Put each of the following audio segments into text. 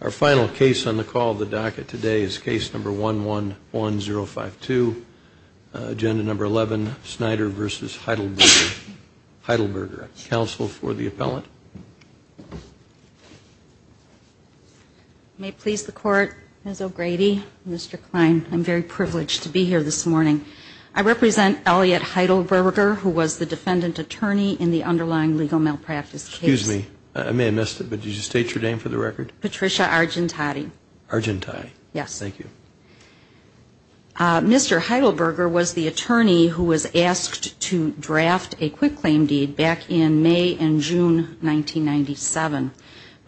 Our final case on the call of the docket today is case number 111052, agenda number 11, Snyder v. Heidelberger. Counsel for the appellant. May it please the Court, Ms. O'Grady, Mr. Klein, I'm very privileged to be here this morning. I represent Elliot Heidelberger, who was the defendant attorney in the underlying legal malpractice case. Excuse me, I may have missed it, but did you state your name for the record? Patricia Argentati. Argentati. Yes. Thank you. Mr. Heidelberger was the attorney who was asked to draft a quick claim deed back in May and June 1997,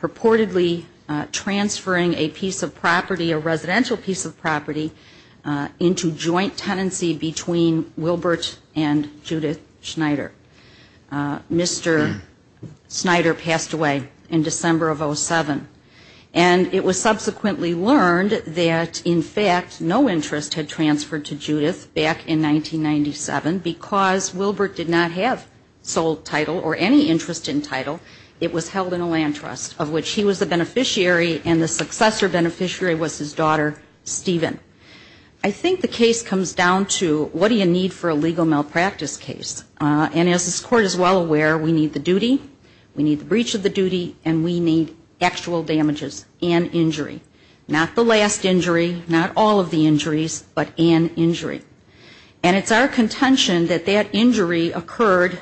purportedly transferring a piece of property, a residential piece of property, into joint tenancy between Wilbert and Judith Snyder. Mr. Snyder passed away in December of 07. And it was subsequently learned that, in fact, no interest had transferred to Judith back in 1997 because Wilbert did not have sole title or any interest in title. It was held in a land trust, of which he was the beneficiary and the successor beneficiary was his daughter, Stephen. I think the case comes down to what do you need for a legal malpractice case? And as this Court is well aware, we need the duty, we need the breach of the duty, and we need actual damages and injury. Not the last injury, not all of the injuries, but an injury. And it's our contention that that injury occurred,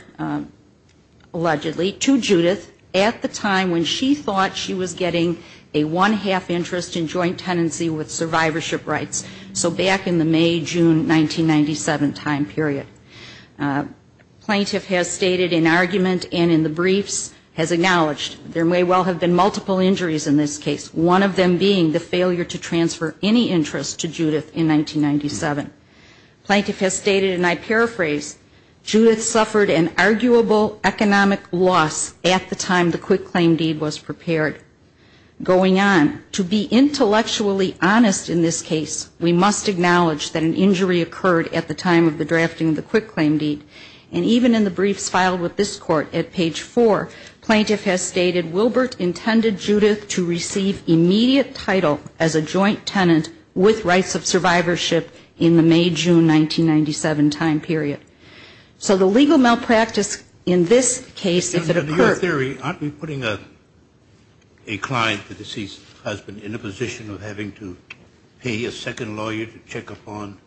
allegedly, to Judith at the time when she thought she was getting a one-half interest in joint tenancy with survivorship rights, so back in the May-June 1997 time period. Plaintiff has stated in argument and in the briefs, has acknowledged, there may well have been multiple injuries in this case, one of them being the failure to transfer any interest to Judith in 1997. Plaintiff has stated, and I paraphrase, Judith suffered an arguable economic loss at the time the quick claim deed was prepared. Going on, to be intellectually honest in this case, we must acknowledge that an injury occurred at the time of the drafting of the quick claim deed. And even in the briefs filed with this Court at page 4, plaintiff has stated Wilbert intended Judith to receive immediate title as a joint tenant with rights of survivorship in the May-June 1997 time period. So the legal malpractice in this case, if it occurred ---- Under your theory, aren't we putting a client, the deceased husband, in a position of having to pay a second lawyer to check upon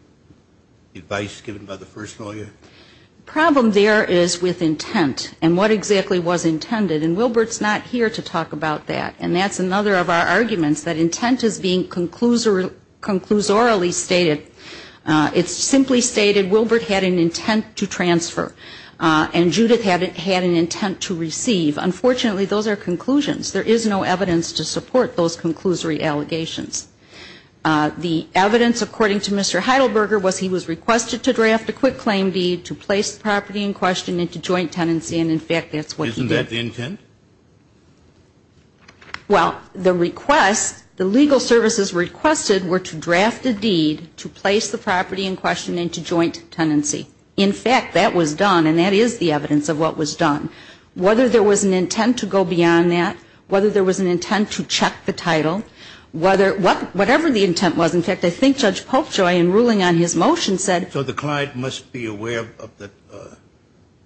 advice given by the first lawyer? The problem there is with intent and what exactly was intended. And Wilbert's not here to talk about that. And that's another of our arguments, that intent is being conclusorily stated. It's simply stated Wilbert had an intent to transfer. And Judith had an intent to receive. Unfortunately, those are conclusions. There is no evidence to support those conclusory allegations. The evidence, according to Mr. Heidelberger, was he was requested to draft a quick claim deed to place the property in question into joint tenancy, and in fact, that's what he did. Isn't that the intent? Well, the request, the legal services requested were to draft a deed to place the property in question into joint tenancy. In fact, that was done, and that is the evidence of what was done. Whether there was an intent to go beyond that, whether there was an intent to check the title, whatever the intent was, in fact, I think Judge Polkjoy, in ruling on his motion, said ---- So the client must be aware of the ----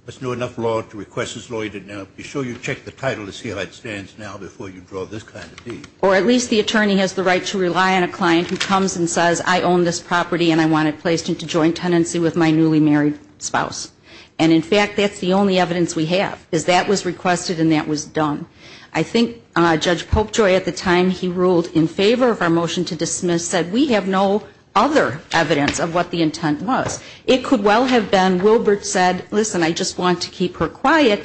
must know enough law to request his lawyer to be sure you check the title to see how it stands now before you draw this kind of deed. Or at least the attorney has the right to rely on a client who comes and says, I own this property and I want it placed into joint tenancy with my newly married spouse. And in fact, that's the only evidence we have, is that was requested and that was done. I think Judge Polkjoy, at the time he ruled in favor of our motion to dismiss, said we have no other evidence of what the intent was. It could well have been Wilbert said, listen, I just want to keep her quiet,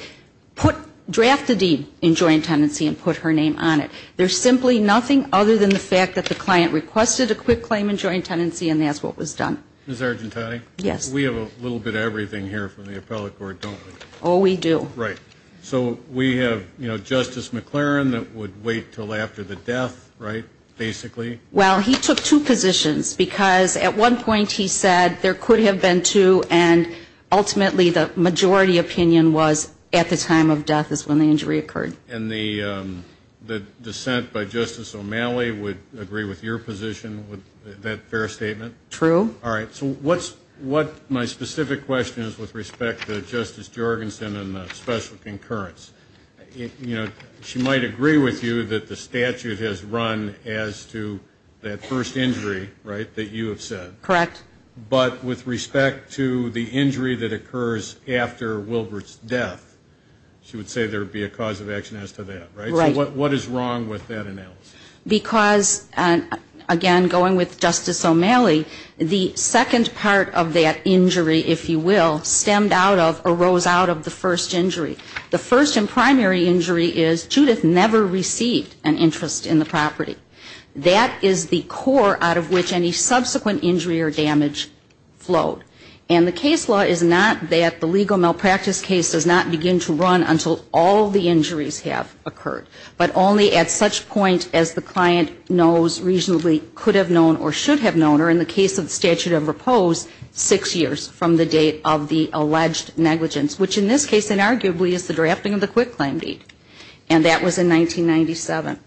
draft the deed in joint tenancy and put her name on it. There's simply nothing other than the fact that the client requested a quick claim in joint tenancy and that's what was done. Ms. Argentani? Yes. We have a little bit of everything here from the appellate court, don't we? Oh, we do. Right. So we have, you know, Justice McLaren that would wait until after the death, right, basically? Well, he took two positions because at one point he said there could have been two and ultimately the majority opinion was at the time of death is when the injury occurred. And the dissent by Justice O'Malley would agree with your position, that fair statement? True. All right. So what my specific question is with respect to Justice Jorgensen and the special concurrence, you know, she might agree with you that the statute has run as to that first injury, right, that you have said. Correct. But with respect to the injury that occurs after Wilbert's death, she would say there would be a cause of action as to that, right? Right. So what is wrong with that analysis? Because, again, going with Justice O'Malley, the second part of that injury, if you will, stemmed out of or rose out of the first injury. The first and primary injury is Judith never received an interest in the property. That is the core out of which any subsequent injury or damage flowed. And the case law is not that the legal malpractice case does not begin to run until all the injuries have occurred, but only at such point as the client knows reasonably could have known or should have known or in the case of the statute of repose, six years from the date of the alleged negligence, which in this case, inarguably, is the drafting of the quick claim deed. And that was in 1997.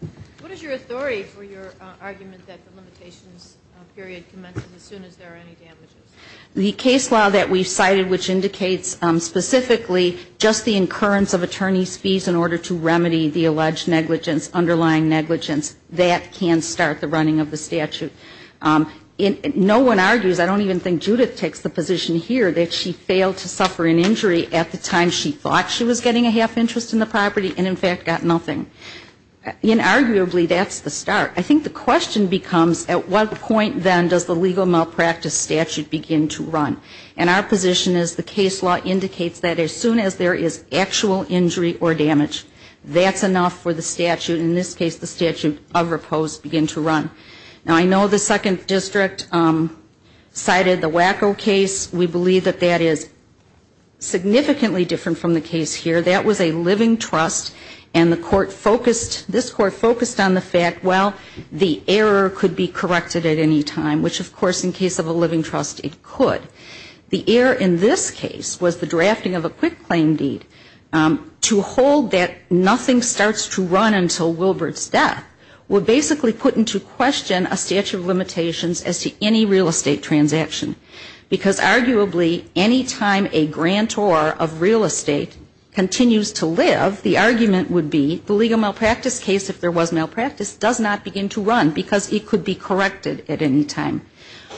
What is your authority for your argument that the limitations period commences as soon as there are any damages? The case law that we cited, which indicates specifically just the incurrence of attorney's fees in order to remedy the alleged negligence, underlying negligence, that can start the running of the statute. No one argues, I don't even think Judith takes the position here, that she failed to suffer an injury at the time she thought she was getting a half interest in the property and, in fact, got nothing. Inarguably, that's the start. I think the question becomes, at what point, then, does the legal malpractice statute begin to run? And our position is the case law indicates that as soon as there is actual injury or damage, that's enough for the statute, in this case, the statute of repose, begin to run. Now, I know the Second District cited the Waco case. We believe that that is significantly different from the case here. That was a living trust. And the court focused, this court focused on the fact, well, the error could be corrected at any time, which, of course, in case of a living trust, it could. The error in this case was the drafting of a quick claim deed to hold that nothing starts to run until Wilbert's death would basically put into question a statute of limitations as to any real estate transaction. Because arguably, any time a grantor of real estate continues to live, the argument would be the legal malpractice case, if there was malpractice, does not begin to run because it could be corrected at any time.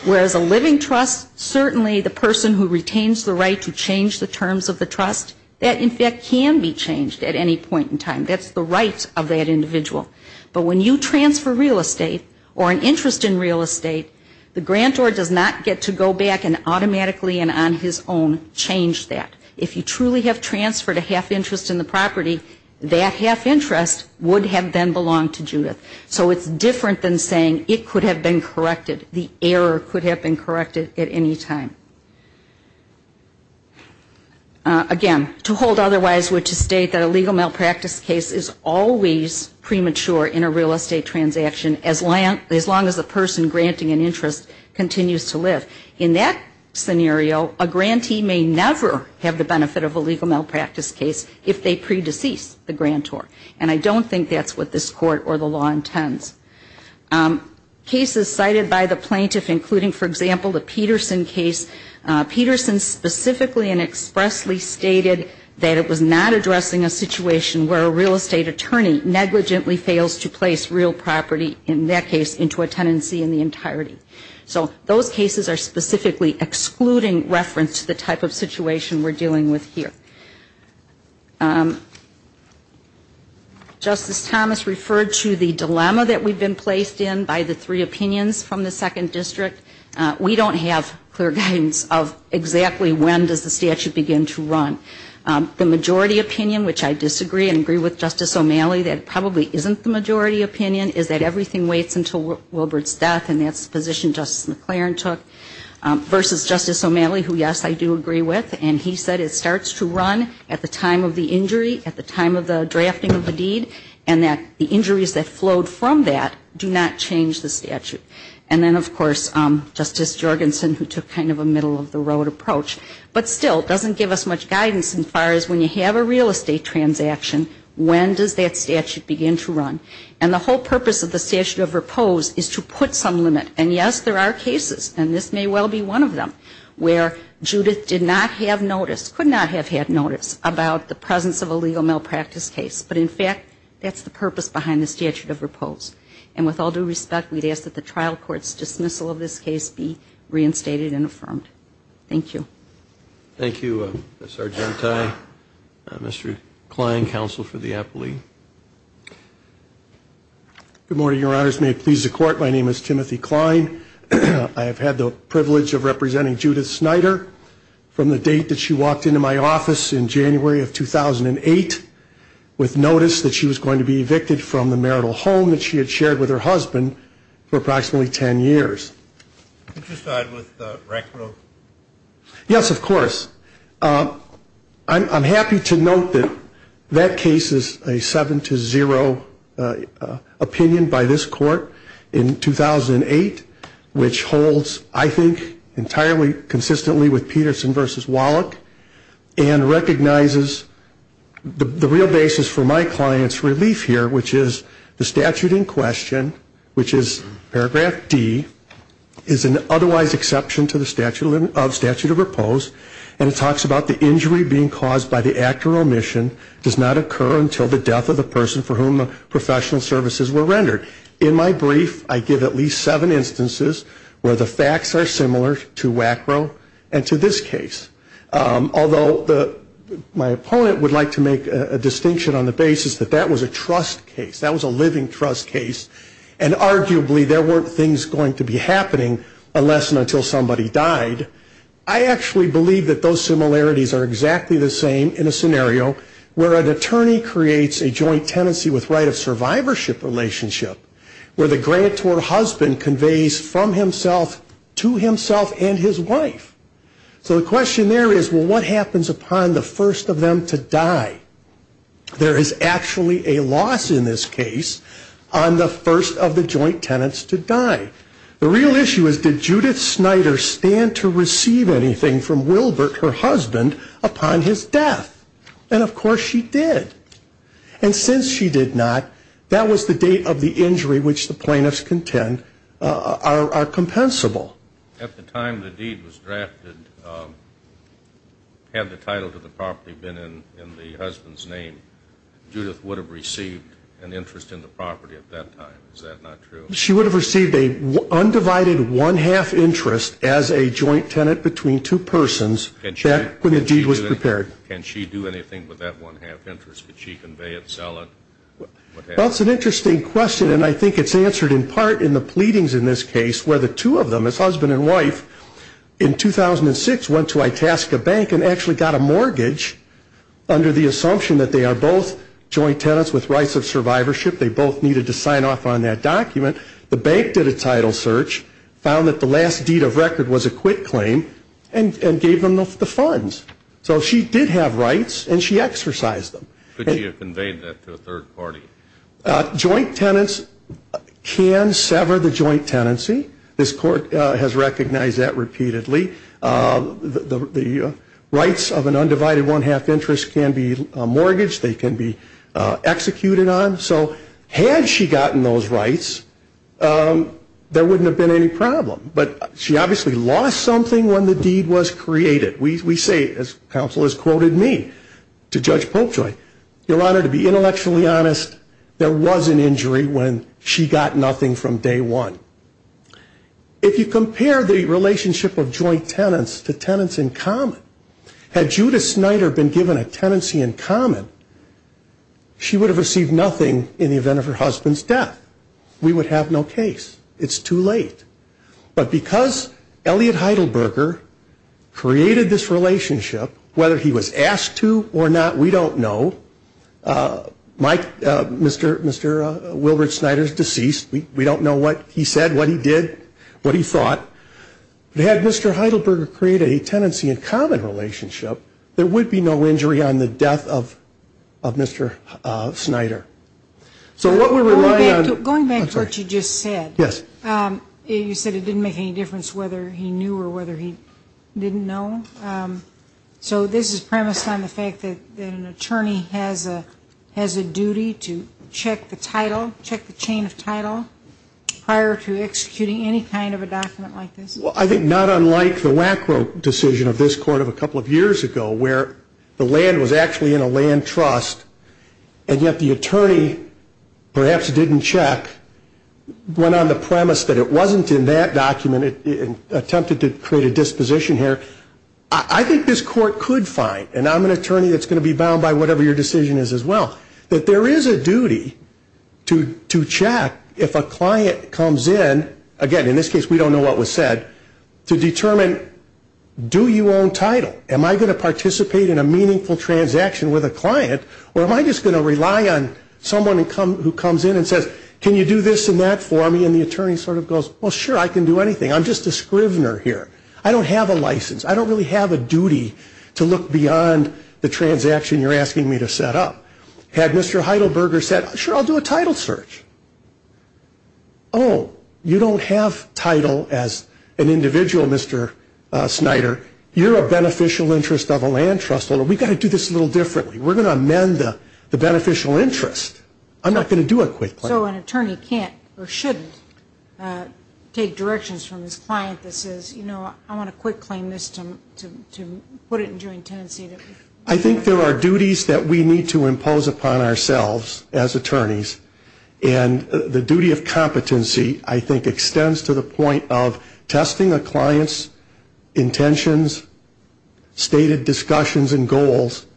Whereas a living trust, certainly the person who retains the right to change the terms of the trust, that, in fact, can be changed at any point in time. That's the right of that individual. But when you transfer real estate or an interest in real estate, the grantor does not get to go back and automatically and on his own change that. If you truly have transferred a half interest in the property, that half interest would have then belonged to Judith. So it's different than saying it could have been corrected. The error could have been corrected at any time. Again, to hold otherwise would to state that a legal malpractice case is always premature in a real estate transaction as long as the person granting an interest continues to live. In that scenario, a grantee may never have the benefit of a legal malpractice case if they pre-decease the grantor. And I don't think that's what this Court or the law intends. Cases cited by the plaintiff, including, for example, the Peterson case, Peterson specifically and expressly stated that it was not addressing a situation where a real estate attorney negligently fails to place real property, in that case, into a tenancy in the entirety. So those cases are specifically excluding reference to the type of situation we're dealing with here. Justice Thomas referred to the dilemma that we've been placed in by the three opinions from the Second District. We don't have clear guidance of exactly when does the statute begin to run. The majority opinion, which I disagree and agree with Justice O'Malley, that probably isn't the majority opinion, is that everything waits until Wilbert's death, and that's the position Justice McLaren took, versus Justice O'Malley, who, yes, I do agree with, and he said it starts to run at the time of the injury, at the time of the drafting of the deed, and that the injuries that flowed from that do not change the statute. And then, of course, Justice Jorgensen, who took kind of a middle-of-the-road approach. But still, it doesn't give us much guidance as far as when you have a real estate transaction, when does that statute begin to run, and the whole purpose of the statute of repose is to put some limit. And, yes, there are cases, and this may well be one of them, where Judith did not have notice, could not have had notice about the presence of a legal malpractice case. But, in fact, that's the purpose behind the statute of repose. And with all due respect, we'd ask that the trial court's dismissal of this case be reinstated and affirmed. Thank you. Thank you, Mr. Argenti. Mr. Kline, Counsel for the Appellee. Good morning, Your Honors. May it please the Court, my name is Timothy Kline. I have had the privilege of representing Judith Snyder from the date that she walked into my office in January of 2008, with notice that she was going to be evicted from the marital home that she had shared with her husband for approximately 10 years. Could you start with the record? Yes, of course. I'm happy to note that that case is a 7-0 opinion by this Court in 2008, which holds, I think, entirely consistently with Peterson v. Wallach, and recognizes the real basis for my client's relief here, which is the statute in question, which is paragraph D, is an otherwise exception to the statute of repose, and it talks about the injury being caused by the act or omission does not occur until the death of the person for whom professional services were rendered. In my brief, I give at least seven instances where the facts are similar to WACRO and to this case. Although my opponent would like to make a distinction on the basis that that was a trust case, and arguably there weren't things going to be happening unless and until somebody died, I actually believe that those similarities are exactly the same in a scenario where an attorney creates a joint tenancy with right of survivorship relationship, where the grantor husband conveys from himself to himself and his wife. So the question there is, well, what happens upon the first of them to die? There is actually a loss in this case on the first of the joint tenants to die. The real issue is, did Judith Snyder stand to receive anything from Wilbert, her husband, upon his death? And of course she did. And since she did not, that was the date of the injury which the plaintiffs contend are compensable. At the time the deed was drafted, had the title to the property been in the husband's name, Judith would have received an interest in the property at that time. Is that not true? She would have received an undivided one-half interest as a joint tenant between two persons back when the deed was prepared. Can she do anything with that one-half interest? Would she convey it, sell it? Well, it's an interesting question, and I think it's answered in part in the pleadings in this case where the two of them, his husband and wife, in 2006 went to Itasca Bank and actually got a mortgage under the assumption that they are both joint tenants with rights of survivorship. They both needed to sign off on that document. The bank did a title search, found that the last deed of record was a quit claim, and gave them the funds. So she did have rights, and she exercised them. Could she have conveyed that to a third party? Joint tenants can sever the joint tenancy. This Court has recognized that repeatedly. The rights of an undivided one-half interest can be mortgaged, they can be executed on. So had she gotten those rights, there wouldn't have been any problem. But she obviously lost something when the deed was created. We say, as counsel has quoted me to Judge Popejoy, Your Honor, to be intellectually honest, there was an injury when she got nothing from day one. If you compare the relationship of joint tenants to tenants in common, had Judith Snyder been given a tenancy in common, she would have received nothing in the event of her husband's death. We would have no case. It's too late. But because Elliot Heidelberger created this relationship, whether he was asked to or not, we don't know. Mike, Mr. Wilbert Snyder's deceased. We don't know what he said, what he did, what he thought. But had Mr. Heidelberger created a tenancy in common relationship, there would be no injury on the death of Mr. Snyder. So what we're relying on... Going back to what you just said. You said it didn't make any difference whether he knew or whether he didn't know. So this is premised on the fact that an attorney has a duty to check the title, check the chain of title, prior to executing any kind of a document like this? Well, I think not unlike the WACRO decision of this Court of a couple of years ago, where the land was actually in a land trust, and yet the attorney perhaps didn't check, went on the premise that it wasn't in that document, attempted to create a disposition here. I think this Court could find, and I'm an attorney that's going to be bound by whatever your decision is as well, that there is a duty to check if a client comes in, again, in this case, we don't know what was said, to determine, do you own title? Am I going to participate in a meaningful transaction with a client, or am I just going to rely on someone who comes in and says, can you do this and that for me? And the attorney sort of goes, well, sure, I can do anything. I'm just a scrivener here. I don't really have a duty to look beyond the transaction you're asking me to set up. Had Mr. Heidelberger said, sure, I'll do a title search. Oh, you don't have title as an individual, Mr. Snyder. You're a beneficial interest of a land trust owner. We've got to do this a little differently. We're going to amend the beneficial interest. I'm not going to do a quick claim. So an attorney can't or shouldn't take directions from his client that says, you know, I want a quick claim to put it in joint tenancy. I think there are duties that we need to impose upon ourselves as attorneys. And the duty of competency, I think, extends to the point of testing a client's intentions, stated discussions and goals,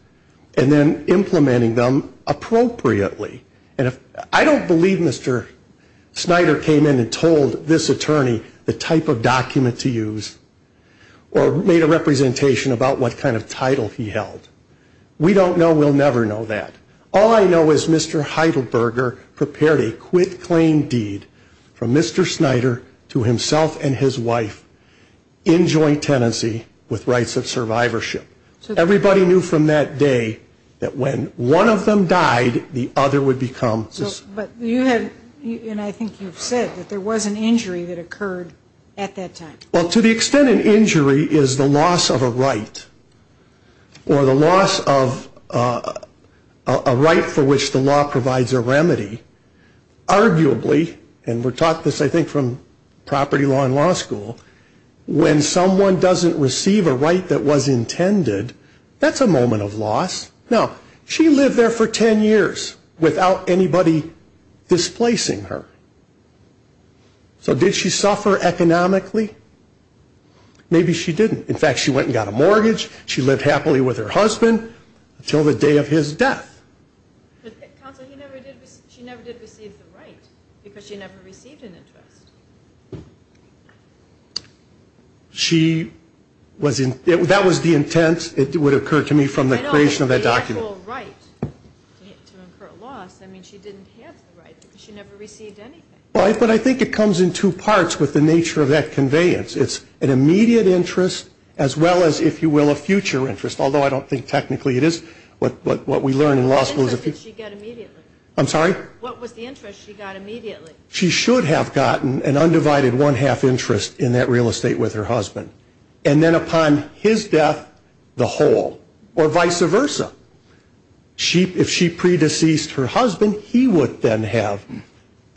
and then implementing them appropriately. And I don't believe Mr. Snyder came in and told this attorney the type of document to use or made a representation about what kind of title he held. We don't know. We'll never know that. All I know is Mr. Heidelberger prepared a quick claim deed from Mr. Snyder to himself and his wife in joint tenancy with rights of survivorship. Everybody knew from that day that when one of them died, the other would become... But you had, and I think you've said, that there was an injury that occurred at that time. Well, to the extent an injury is the loss of a right, or the loss of a right for which the law provides a remedy, arguably, and we're taught this, I think, from property law and law school, when someone doesn't receive a right that was intended, that's a moment of loss. Now, she lived there for ten years without anybody displacing her. So did she suffer economically? Maybe she didn't. In fact, she went and got a mortgage. She lived happily with her husband until the day of his death. But, counsel, she never did receive the right because she never received an interest. She was... That was the intent, it would occur to me, from the creation of that document. I know, but she had no right to incur a loss. I mean, she didn't have the right because she never received anything. But I think it comes in two parts with the nature of that conveyance. It's an immediate interest as well as, if you will, a future interest, although I don't think technically it is. What interest did she get immediately? I'm sorry? What was the interest she got immediately? And then upon his death, the whole, or vice versa. If she pre-deceased her husband, he would then have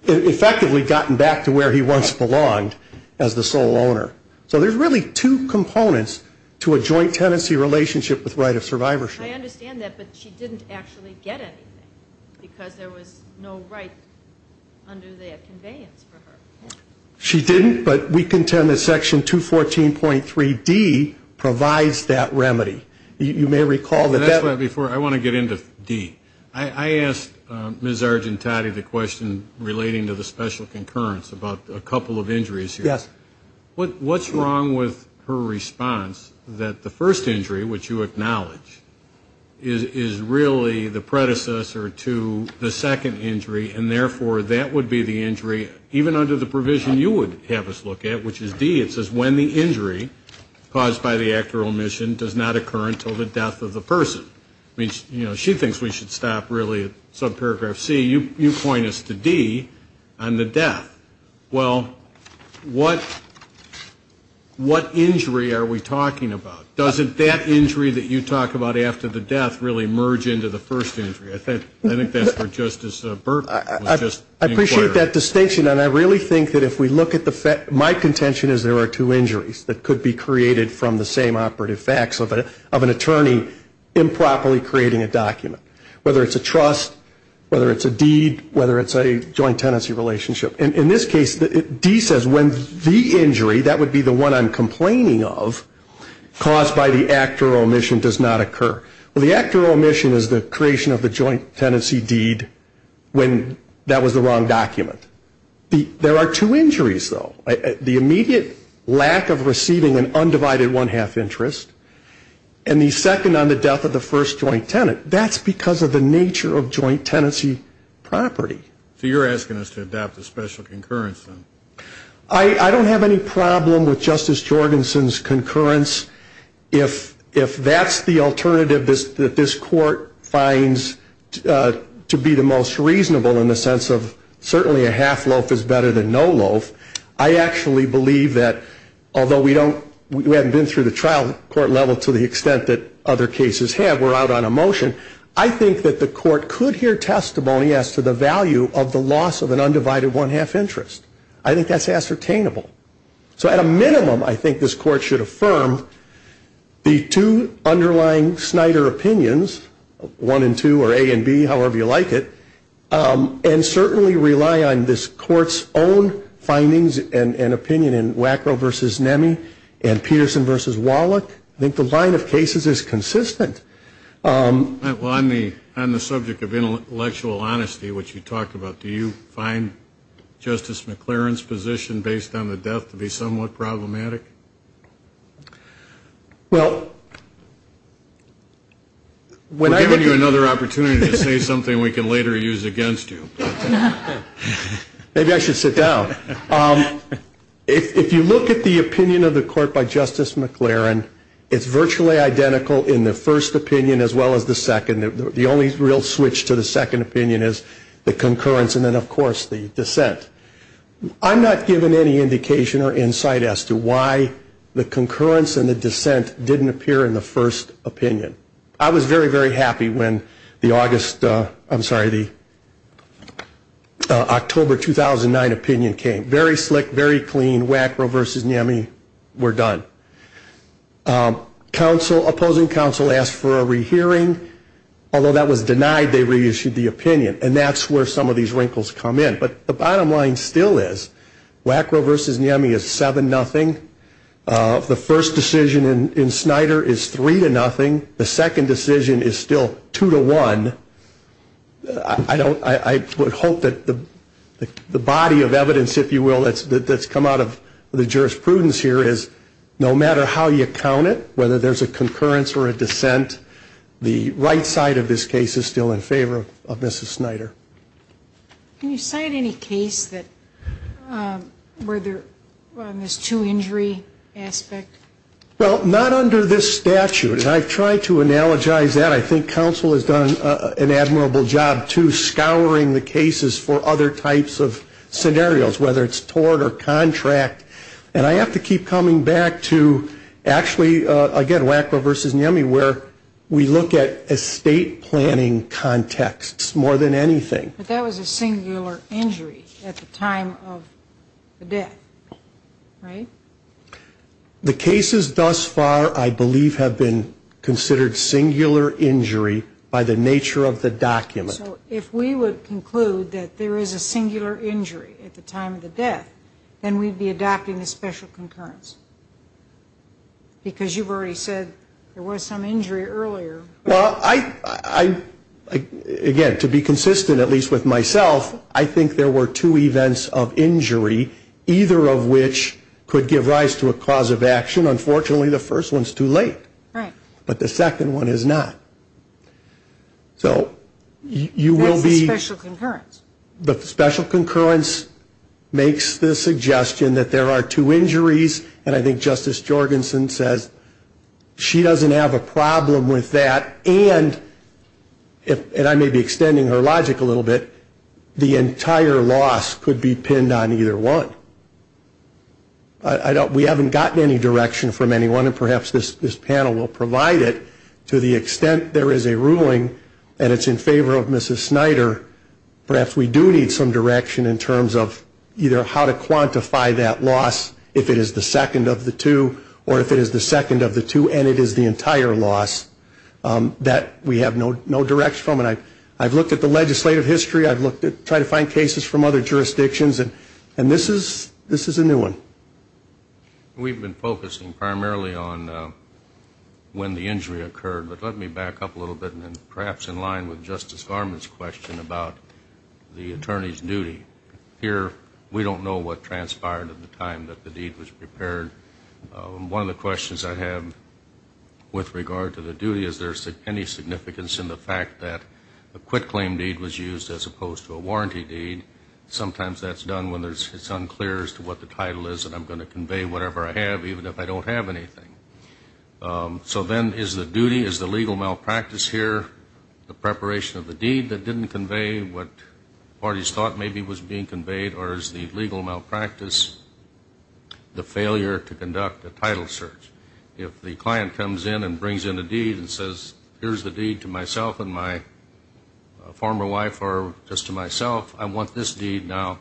effectively gotten back to where he once belonged as the sole owner. So there's really two components to a joint tenancy relationship with right of survivorship. I understand that, but she didn't actually get anything because there was no right under that conveyance for her. She didn't, but we contend that Section 214.3D provides that remedy. You may recall that that... And that's why before, I want to get into D. I asked Ms. Argentati the question relating to the special concurrence about a couple of injuries here. Yes. What's wrong with her response that the first injury, which you acknowledge, is really the predecessor to the second injury and therefore that would be the injury even under the provision you would have us look at, which is D. It says when the injury caused by the act or omission does not occur until the death of the person. She thinks we should stop really at subparagraph C. You point us to D on the death. Well, what injury are we talking about? Doesn't that injury that you talk about after the death really merge into the first injury? I think that's where Justice Berkman was just inquiring. I appreciate that distinction, and I really think that if we look at the fact, my contention is there are two injuries that could be created from the same operative facts of an attorney improperly creating a document, whether it's a trust, whether it's a deed, whether it's a joint tenancy relationship. In this case, D says when the injury, that would be the one I'm complaining of, caused by the act or omission does not occur. Well, the act or omission is the creation of the joint tenancy deed when that was the wrong document. There are two injuries, though. The immediate lack of receiving an undivided one-half interest, and the second on the death of the first joint tenant. That's because of the nature of joint tenancy property. So you're asking us to adopt a special concurrence, then? I don't have any problem with Justice Jorgensen's concurrence if that's the alternative that this court finds to be the most reasonable in the sense of certainly a half loaf is better than no loaf. I actually believe that although we haven't been through the trial court level to the extent that other cases have, we're out on a motion, I think that the court could hear testimony as to the value of the loss of an undivided one-half interest. I think that's ascertainable. So at a minimum, I think this court should affirm the two underlying Snyder opinions, one and two or A and B, however you like it, and certainly rely on this court's own findings and opinion in Wackrow v. Nemi and Peterson v. Wallach. I think the line of cases is consistent. Well, on the subject of intellectual honesty, which you talked about, do you find Justice McLaren's position based on the death to be somewhat problematic? Well, when I... We're giving you another opportunity to say something we can later use against you. Maybe I should sit down. If you look at the opinion of the court by Justice McLaren, it's virtually identical in the first opinion as well as the second. The only real switch to the second opinion is the concurrence and then, of course, the dissent. I'm not given any indication or insight as to why the concurrence and the dissent didn't appear in the first opinion. I was very, very happy when the August... I'm sorry, the October 2009 opinion came. Very slick, very clean. Wackrow v. Nemi, we're done. Opposing counsel asked for a rehearing. Although that was denied, they reissued the opinion, and that's where some of these wrinkles come in. But the bottom line still is Wackrow v. Nemi is 7-0. The first decision in Snyder is 3-0. The second decision is still 2-1. I don't... I would hope that the body of evidence, if you will, that's come out of the jurisprudence here is no matter how you count it, whether there's a concurrence or a dissent, the right side of this case is still in favor of Mrs. Snyder. Can you cite any case that... where there... on this two-injury aspect? Well, not under this statute. And I've tried to analogize that. I think counsel has done an admirable job, too, scouring the cases for other types of scenarios, whether it's tort or contract. And I have to keep coming back to actually, again, Wackrow v. Nemi, where we look at estate planning contexts more than anything. But that was a singular injury at the time of the death, right? The cases thus far, I believe, have been considered singular injury by the nature of the document. So if we would conclude that there is a singular injury at the time of the death, then we'd be adopting a special concurrence? Because you've already said there was some injury earlier. Well, I... I... Again, to be consistent, at least with myself, I think there were two events of injury, either of which could give rise to a cause of action. Unfortunately, the first one's too late. Right. But the second one is not. So you will be... That's a special concurrence. The special concurrence makes the suggestion that there are two injuries. And I think Justice Jorgensen says she doesn't have a problem with that. And, and I may be extending her logic a little bit, the entire loss could be pinned on either one. I don't... We haven't gotten any direction from anyone. And perhaps this panel will provide it. To the extent there is a ruling and it's in favor of Mrs. Snyder, perhaps we do need some direction in terms of either how to quantify that loss if it is the second of the two or if it is the second of the two and it is the entire loss. That we have no direction from. And I've looked at the legislative history. I've looked at trying to find cases from other jurisdictions. And this is, this is a new one. We've been focusing primarily on when the injury occurred. But let me back up a little bit and perhaps in line with Justice Varmus' question about the attorney's duty. Here, we don't know what transpired at the time that the deed was prepared. One of the questions I have with regard to the duty is there any significance in the fact that a quit claim deed was used as opposed to a warranty deed. Sometimes that's done when it's unclear as to what the title is and I'm going to convey whatever I have even if I don't have anything. So then is the duty, is the legal malpractice here the preparation of the deed that didn't convey what parties thought maybe was being conveyed or is the legal malpractice the failure to conduct a title search? If the client comes in and says here's the deed to myself and my former wife or just to myself, I want this deed now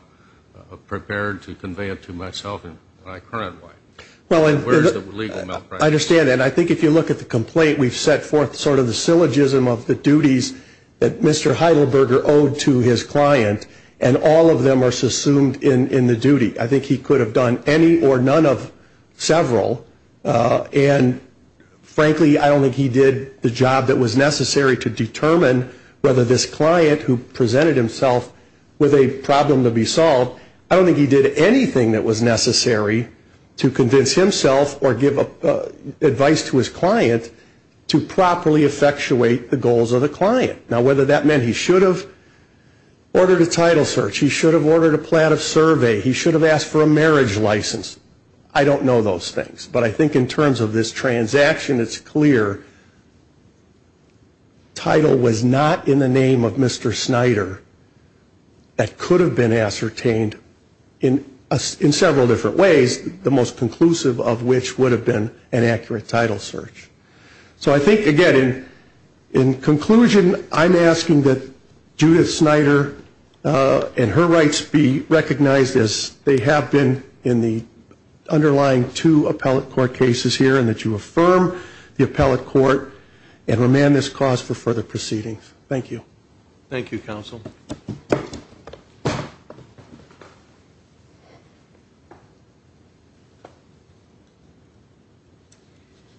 prepared to convey it to myself and my current wife, where's the legal malpractice? I understand that. I think if you look at the complaint, we've set forth sort of the syllogism of the duties that Mr. Heidelberger owed to his client and all of them are assumed in the duty. I think he could have done any or none of several in the job that was necessary to determine whether this client who presented himself with a problem to be solved, I don't think he did anything that was necessary to convince himself or give advice to his client to properly effectuate the goals of the client. Now whether that meant he should have ordered a title search, he should have ordered a plat of survey, he should have asked for a marriage license, I don't know those things but the title was not in the name of Mr. Snyder that could have been ascertained in several different ways, the most conclusive of which would have been an accurate title search. So I think again, in conclusion, I'm asking that Judith Snyder and her rights be recognized as they have been in the underlying two appellate court cases here and that you affirm the appellate court and remand this cause for further proceedings. Thank you. Thank you counsel.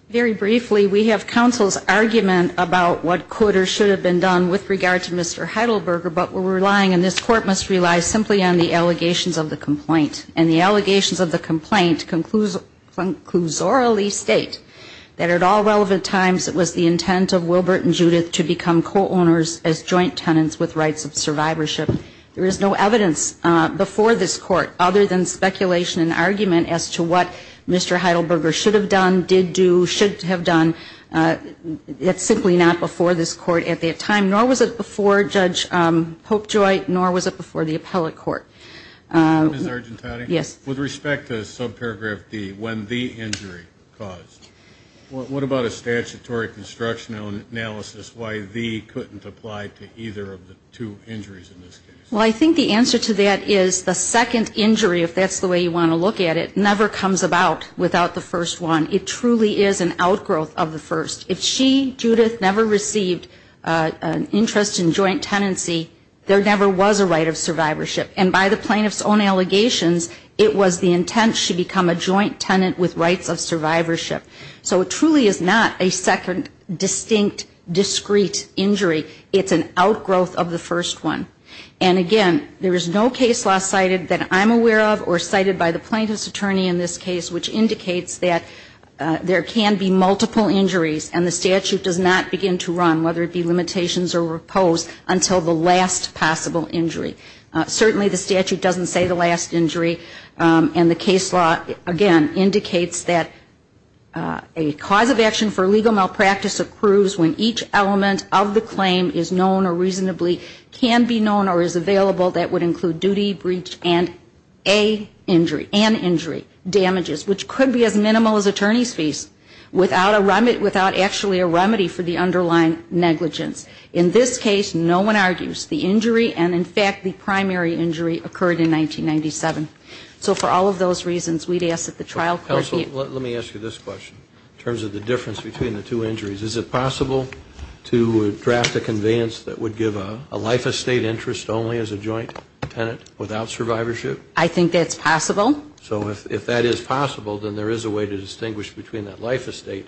Very briefly, we have counsel's argument about what could or should have been done with regard to Mr. Heidelberger but we're relying and this court must rely simply on the allegations of the complaint and the allegations of the complaint conclusorily state that at all relevant times it was the intent of Wilbert and Judith to become co-owners as joint tenants with rights of survivorship. There is no evidence before this court other than speculation and argument as to what Mr. Heidelberger should have done, did do, should have done. It's simply not before this court at that time nor was it before Judge Popejoy nor was it before the appellate court. Thank you. Ms. Heidelberger. Yes. With respect to subparagraph D, when the injury caused, what about a statutory constructional analysis why the couldn't apply to either of the two injuries in this case? Well, I think the answer to that is the second injury if that's the way you want to look at it never comes about without the first one. It truly is an outgrowth of the first. If she, Judith, never received an interest in joint tenancy, there never was a right of survivorship. And by the plaintiff's own allegations, it was the intent she become a joint tenant with rights of survivorship. So it truly is not a second distinct, discrete injury. It's an outgrowth of the first one. And again, there is no case law cited that I'm aware of or cited by the plaintiff's attorney in this case which indicates that there can be multiple injuries and the statute does not begin to run whether it be limitations or repose until the last possible injury. Certainly, the statute doesn't say the last injury and the case law, again, indicates that a cause of action for legal malpractice accrues when each element of the claim is known or reasonably can be known or is available that would include duty, breach, and an injury damages which could be as minimal as attorney's fees without actually a remedy for the underlying negligence. In this case, no one argues the injury and, in fact, the primary injury occurred in 1997. So for all of those reasons, we'd ask that the trial court be Counsel, let me ask you this question in terms of the difference between the two injuries. Is it possible to draft a conveyance that would give a life estate interest only as a joint tenant without survivorship? I think that's possible. So if that is possible, then there is a way to distinguish between that life estate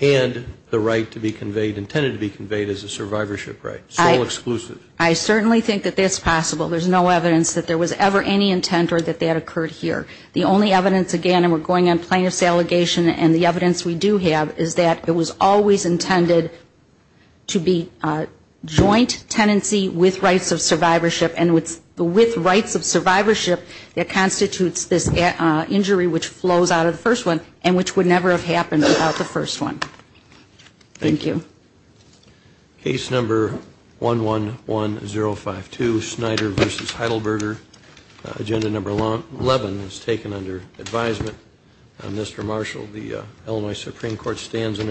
and the right to be conveyed intended to be conveyed as a survivorship right, sole exclusive. I certainly think that that's possible. There's no evidence that there was ever any intent or that that occurred here. The only evidence, again, and we're going on plaintiff's allegation and the evidence we do have is that it was always intended to be joint tenancy with rights of survivorship and with rights of survivorship that constitutes this injury which flows out of the first one and which would never have happened without the first one. Thank you. Case number 111052 Snyder v. Heidelberger Agenda number 11 is taken under advisement. Mr. Marshall, the Illinois Supreme Court stands in adjournment.